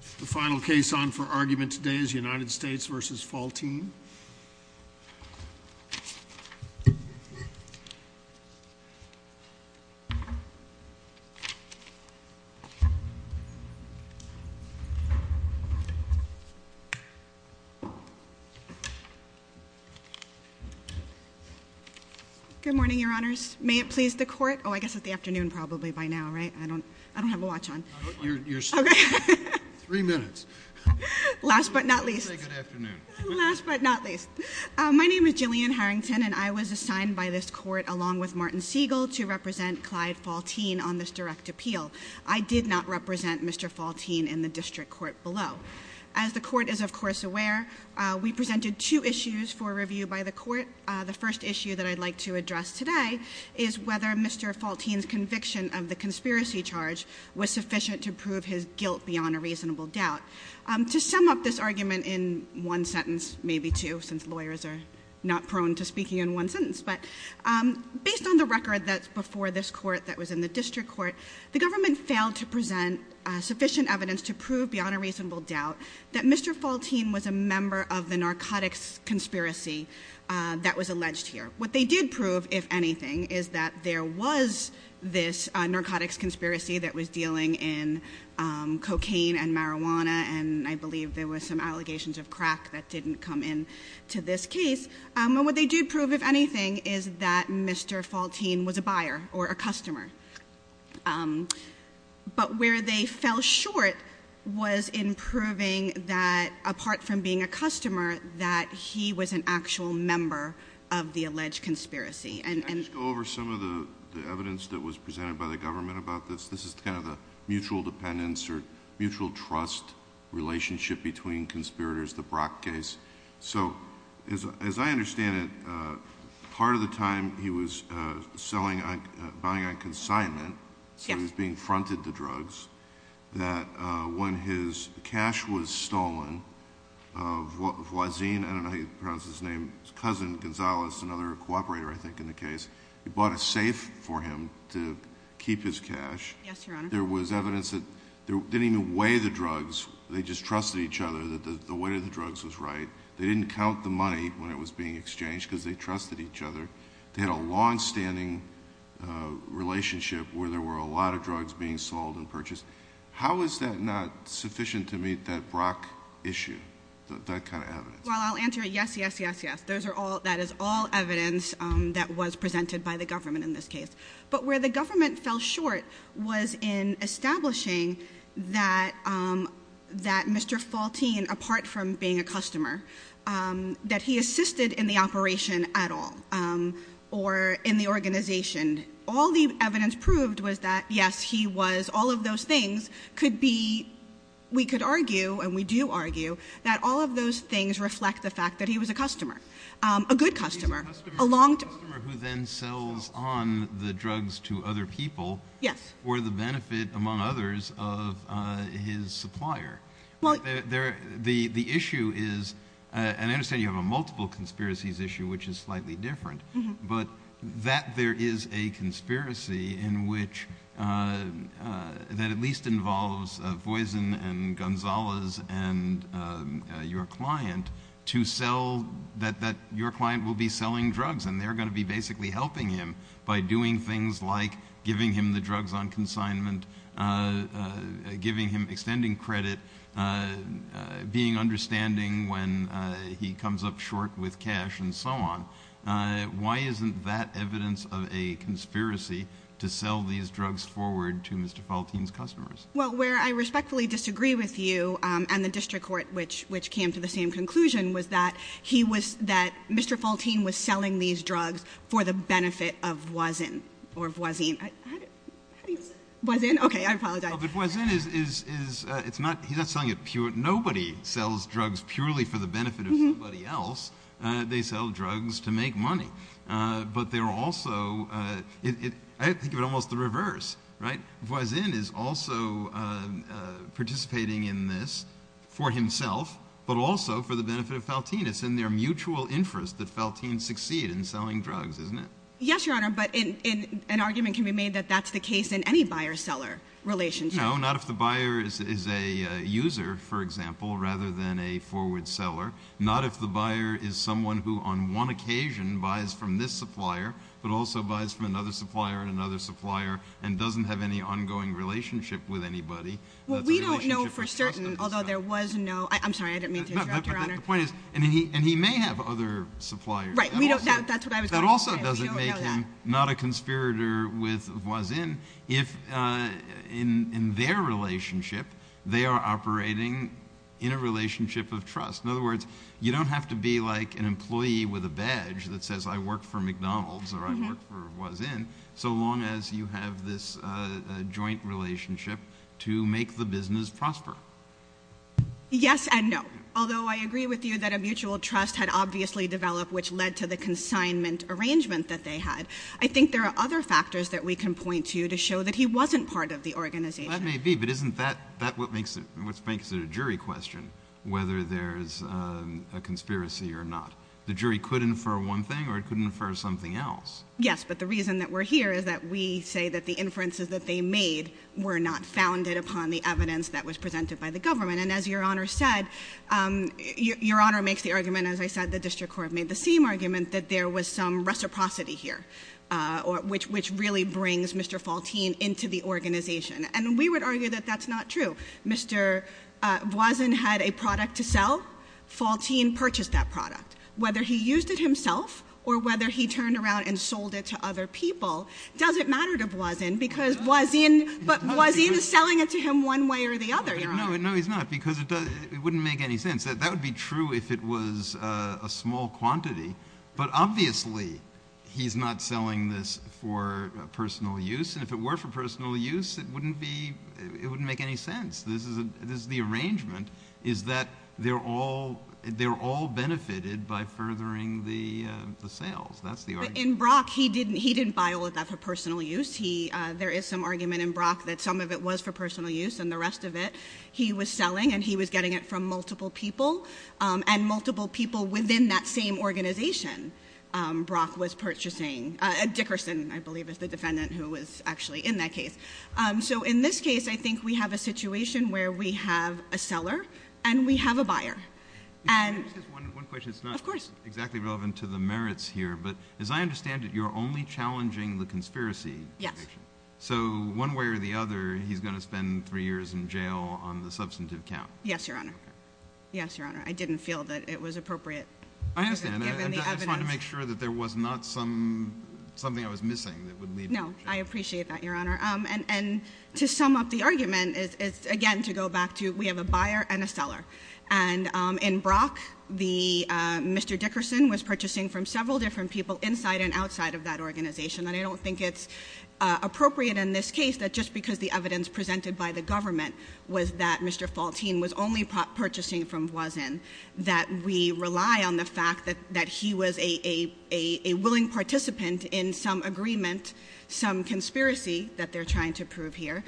The final case on for argument today is United States v. Faltine. Good morning, your honors. May it please the court? Oh, I guess it's the afternoon probably by now, right? I don't have a watch on. Okay. Three minutes. Last but not least. Okay, good afternoon. Last but not least. My name is Jillian Harrington and I was assigned by this court along with Martin Siegel to represent Clyde Faltine on this direct appeal. I did not represent Mr. Faltine in the district court below. As the court is, of course, aware, we presented two issues for review by the court. The first issue that I'd like to address today is whether Mr. Faltine's conviction of the conspiracy charge was sufficient to prove his guilt beyond a reasonable doubt. To sum up this argument in one sentence, maybe two since lawyers are not prone to speaking in one sentence, but based on the record that's before this court that was in the district court, the government failed to present sufficient evidence to prove beyond a reasonable doubt that Mr. Faltine was a member of the narcotics conspiracy that was alleged here. What they did prove, if anything, is that there was this narcotics conspiracy that was dealing in cocaine and marijuana, and I believe there were some allegations of crack that didn't come in to this case. What they did prove, if anything, is that Mr. Faltine was a buyer or a customer. But where they fell short was in proving that, apart from being a customer, that he was an actual member of the alleged conspiracy. Can I just go over some of the evidence that was presented by the government about this? This is kind of the mutual dependence or mutual trust relationship between conspirators, the Brock case. As I understand it, part of the time he was buying on consignment, so he was being fronted the drugs, that when his cash was stolen, Voisin, I don't know how you pronounce his name, his cousin Gonzales, another cooperator I think in the case, he bought a safe for him to keep his cash. Yes, Your Honor. There was evidence that they didn't even weigh the drugs. They just trusted each other that the weight of the drugs was right. They didn't count the money when it was being exchanged because they trusted each other. They had a longstanding relationship where there were a lot of drugs being sold and purchased. How is that not sufficient to meet that Brock issue, that kind of evidence? Well, I'll answer it, yes, yes, yes, yes. That is all evidence that was presented by the government in this case. But where the government fell short was in establishing that Mr. Faltine, apart from being a customer, that he assisted in the operation at all or in the organization. All the evidence proved was that, yes, he was, all of those things could be, we could argue, and we do argue that all of those things reflect the fact that he was a customer, a good customer. A customer who then sells on the drugs to other people for the benefit, among others, of his supplier. The issue is, and I understand you have a multiple conspiracies issue which is slightly different, but that there is a conspiracy in which that at least involves Voisin and Gonzalez and your client to sell, that your client will be selling drugs and they're going to be basically helping him by doing things like giving him the drugs on consignment, giving him extending credit, being understanding when he comes up short with cash and so on. Why isn't that evidence of a conspiracy to sell these drugs forward to Mr. Faltine's customers? Well, where I respectfully disagree with you and the district court which came to the same conclusion was that he was, that Mr. Faltine was selling these drugs for the benefit of Voisin or Voisin. How do you say it? Voisin. Okay, I apologize. But Voisin is, it's not, he's not selling it, nobody sells drugs purely for the benefit of somebody else. They sell drugs to make money. But they're also, I think of it almost the reverse, right? Voisin is also participating in this for himself but also for the benefit of Faltine. It's in their mutual interest that Faltine succeed in selling drugs, isn't it? Yes, Your Honor, but an argument can be made that that's the case in any buyer-seller relationship. No, not if the buyer is a user, for example, rather than a forward seller, not if the buyer is someone who on one occasion buys from this supplier but also buys from another supplier and another supplier and doesn't have any ongoing relationship with anybody. Well, we don't know for certain, although there was no, I'm sorry, I didn't mean to interrupt, Your Honor. No, but the point is, and he may have other suppliers. Right, we don't, that's what I was going to say. That also doesn't make him not a conspirator with Voisin if in their relationship they are operating in a relationship of trust. In other words, you don't have to be like an employee with a badge that says I work for McDonald's or I work for Voisin so long as you have this joint relationship to make the business prosper. Yes and no, although I agree with you that a mutual trust had obviously developed which led to the consignment arrangement that they had. I think there are other factors that we can point to to show that he wasn't part of the organization. That may be, but isn't that what makes it a jury question, whether there's a conspiracy or not? The jury could infer one thing or it could infer something else. Yes, but the reason that we're here is that we say that the inferences that they made were not founded upon the evidence that was presented by the government. And as Your Honor said, Your Honor makes the argument, as I said, the district court made the same argument that there was some reciprocity here, which really brings Mr. Faltine into the organization. And we would argue that that's not true. Mr. Voisin had a product to sell. Faltine purchased that product. Whether he used it himself or whether he turned around and sold it to other people doesn't matter to Voisin because Voisin is selling it to him one way or the other, Your Honor. No, he's not because it wouldn't make any sense. That would be true if it was a small quantity, but obviously he's not selling this for personal use. And if it were for personal use, it wouldn't make any sense. The arrangement is that they're all benefited by furthering the sales. That's the argument. But in Brock, he didn't buy all of that for personal use. There is some argument in Brock that some of it was for personal use and the rest of it he was selling and he was getting it from multiple people, and multiple people within that same organization Brock was purchasing. Dickerson, I believe, is the defendant who was actually in that case. So in this case, I think we have a situation where we have a seller and we have a buyer. Can I ask just one question? Of course. It's not exactly relevant to the merits here, but as I understand it, you're only challenging the conspiracy. Yes. So one way or the other, he's going to spend three years in jail on the substantive count. Yes, Your Honor. Yes, Your Honor. I didn't feel that it was appropriate. I understand. Given the evidence. I'm trying to make sure that there was not something I was missing that would lead to jail. No, I appreciate that, Your Honor. And to sum up the argument is, again, to go back to we have a buyer and a seller. And in Brock, Mr. Dickerson was purchasing from several different people inside and outside of that organization. And I don't think it's appropriate in this case that just because the evidence presented by the government was that Mr. Faltine was only purchasing from Voisin, that we rely on the fact that he was a willing participant in some agreement, some conspiracy that they're trying to prove here,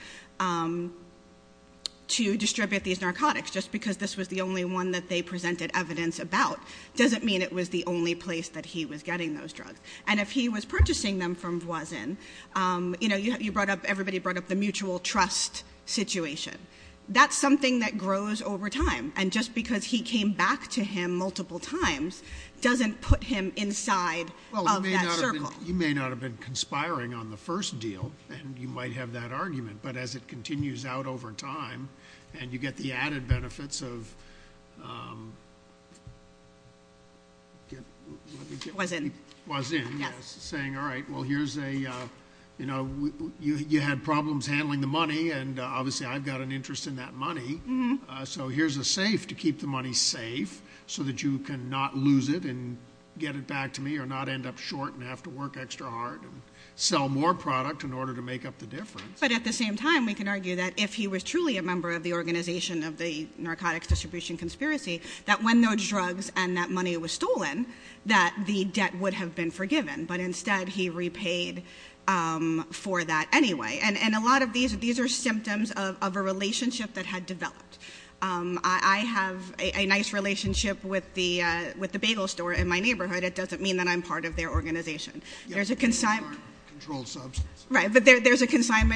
to distribute these narcotics. Just because this was the only one that they presented evidence about doesn't mean it was the only place that he was getting those drugs. And if he was purchasing them from Voisin, everybody brought up the mutual trust situation. That's something that grows over time. And just because he came back to him multiple times doesn't put him inside of that circle. Well, you may not have been conspiring on the first deal, and you might have that argument. But as it continues out over time, and you get the added benefits of Voisin saying, all right, well, you had problems handling the money, and obviously I've got an interest in that money. So here's a safe to keep the money safe so that you can not lose it and get it back to me or not end up short and have to work extra hard and sell more product in order to make up the difference. But at the same time, we can argue that if he was truly a member of the organization of the narcotics distribution conspiracy, that when those drugs and that money was stolen, that the debt would have been forgiven. But instead, he repaid for that anyway. And a lot of these are symptoms of a relationship that had developed. I have a nice relationship with the bagel store in my neighborhood. It doesn't mean that I'm part of their organization. There's a consignment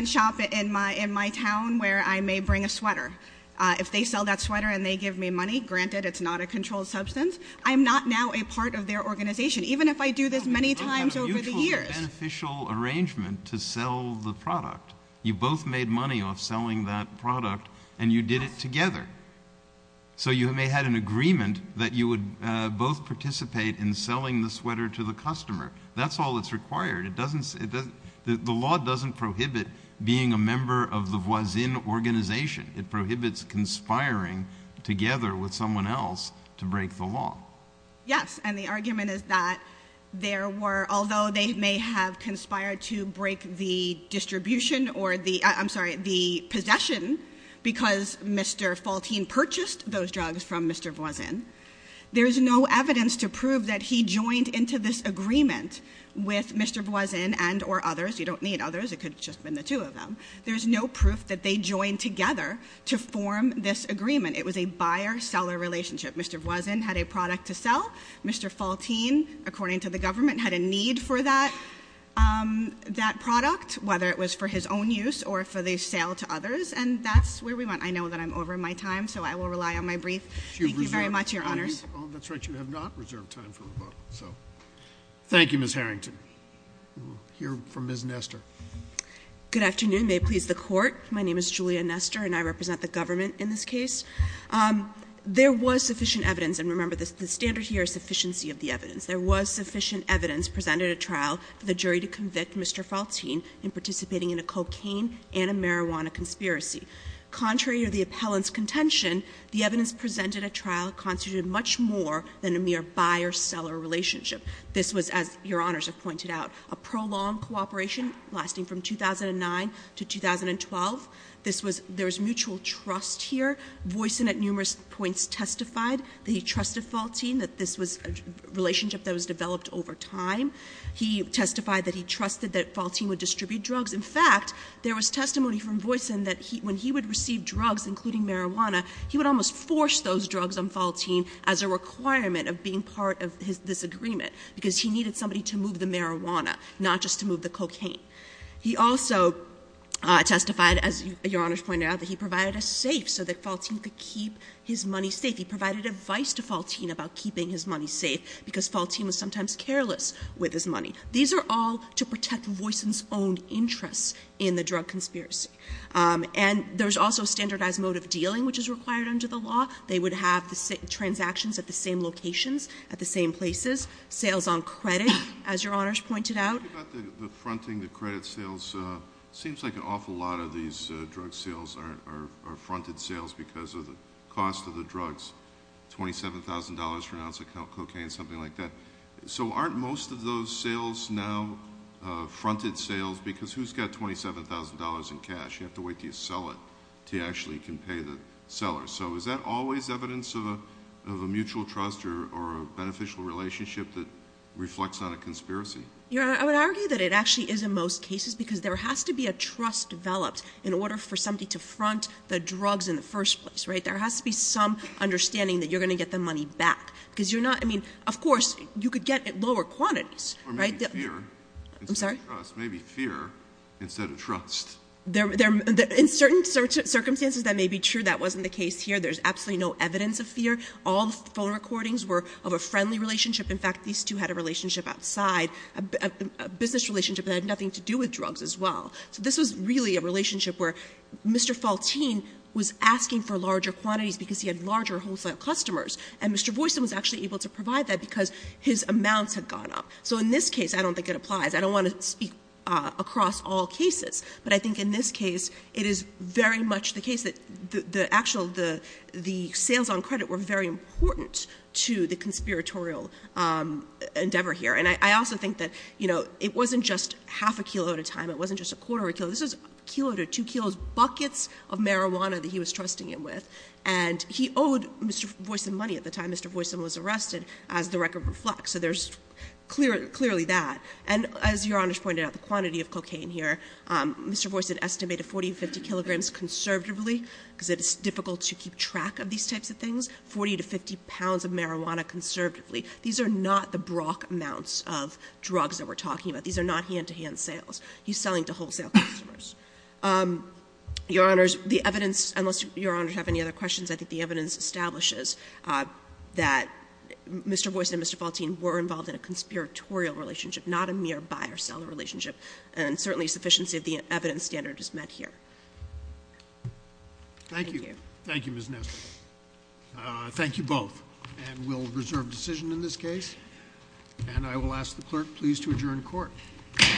shop in my town where I may bring a sweater. If they sell that sweater and they give me money, granted it's not a controlled substance, I'm not now a part of their organization, even if I do this many times over the years. You both made money off selling that product, and you did it together. So you may have had an agreement that you would both participate in selling the sweater to the customer. That's all that's required. The law doesn't prohibit being a member of the voisin organization. It prohibits conspiring together with someone else to break the law. Yes, and the argument is that there were, although they may have conspired to break the distribution or the, I'm sorry, the possession because Mr. Faltine purchased those drugs from Mr. Voisin, there's no evidence to prove that he joined into this agreement with Mr. Voisin and or others. You don't need others, it could have just been the two of them. There's no proof that they joined together to form this agreement. It was a buyer-seller relationship. Mr. Voisin had a product to sell. Mr. Faltine, according to the government, had a need for that product, whether it was for his own use or for the sale to others, and that's where we went. I know that I'm over my time, so I will rely on my brief. Thank you very much, Your Honors. Thank you. Oh, that's right, you have not reserved time for rebuttal, so. Thank you, Ms. Harrington. We will hear from Ms. Nestor. Good afternoon. May it please the Court. My name is Julia Nestor, and I represent the government in this case. There was sufficient evidence, and remember, the standard here is sufficiency of the evidence. There was sufficient evidence presented at trial for the jury to convict Mr. Faltine in participating in a cocaine and a marijuana conspiracy. Contrary to the appellant's contention, the evidence presented at trial constituted much more than a mere buyer-seller relationship. This was, as Your Honors have pointed out, a prolonged cooperation lasting from 2009 to 2012. This was – there was mutual trust here. Voisin at numerous points testified that he trusted Faltine, that this was a relationship that was developed over time. He testified that he trusted that Faltine would distribute drugs. In fact, there was testimony from Voisin that when he would receive drugs, including marijuana, he would almost force those drugs on Faltine as a requirement of being part of his disagreement because he needed somebody to move the marijuana, not just to move the cocaine. He also testified, as Your Honors pointed out, that he provided a safe so that Faltine could keep his money safe. He provided advice to Faltine about keeping his money safe because Faltine was sometimes careless with his money. These are all to protect Voisin's own interests in the drug conspiracy. And there's also standardized mode of dealing, which is required under the law. They would have the transactions at the same locations, at the same places. Sales on credit, as Your Honors pointed out. The fronting, the credit sales, seems like an awful lot of these drug sales are fronted sales because of the cost of the drugs, $27,000 for an ounce of cocaine, something like that. So aren't most of those sales now fronted sales because who's got $27,000 in cash? You have to wait until you sell it until you actually can pay the seller. So is that always evidence of a mutual trust or a beneficial relationship that reflects on a conspiracy? Your Honor, I would argue that it actually is in most cases because there has to be a trust developed in order for somebody to front the drugs in the first place. There has to be some understanding that you're going to get the money back. Because you're not, I mean, of course, you could get at lower quantities. Or maybe fear. I'm sorry? Maybe fear instead of trust. In certain circumstances that may be true. That wasn't the case here. There's absolutely no evidence of fear. All the phone recordings were of a friendly relationship. In fact, these two had a relationship outside, a business relationship that had nothing to do with drugs as well. So this was really a relationship where Mr. Faltine was asking for larger quantities because he had larger wholesale customers. And Mr. Voisin was actually able to provide that because his amounts had gone up. So in this case, I don't think it applies. I don't want to speak across all cases. But I think in this case, it is very much the case that the actual, the sales on credit were very important to the conspiratorial endeavor here. And I also think that, you know, it wasn't just half a kilo at a time. It wasn't just a quarter of a kilo. This was a kilo to two kilos buckets of marijuana that he was trusting him with. And he owed Mr. Voisin money at the time Mr. Voisin was arrested, as the record reflects. So there's clearly that. And as Your Honors pointed out, the quantity of cocaine here, Mr. Voisin estimated 40 to 50 kilograms conservatively, because it is difficult to keep track of these types of things, 40 to 50 pounds of marijuana conservatively. These are not the Brock amounts of drugs that we're talking about. These are not hand-to-hand sales. He's selling to wholesale customers. Your Honors, the evidence, unless Your Honors have any other questions, I think the evidence establishes that Mr. Voisin and Mr. Faltine were involved in a conspiratorial relationship, not a mere buyer-seller relationship. And certainly, sufficiency of the evidence standard is met here. Thank you. Thank you. Thank you, Ms. Nestle. Thank you both. And we'll reserve decision in this case. And I will ask the clerk, please, to adjourn court. Court is adjourned.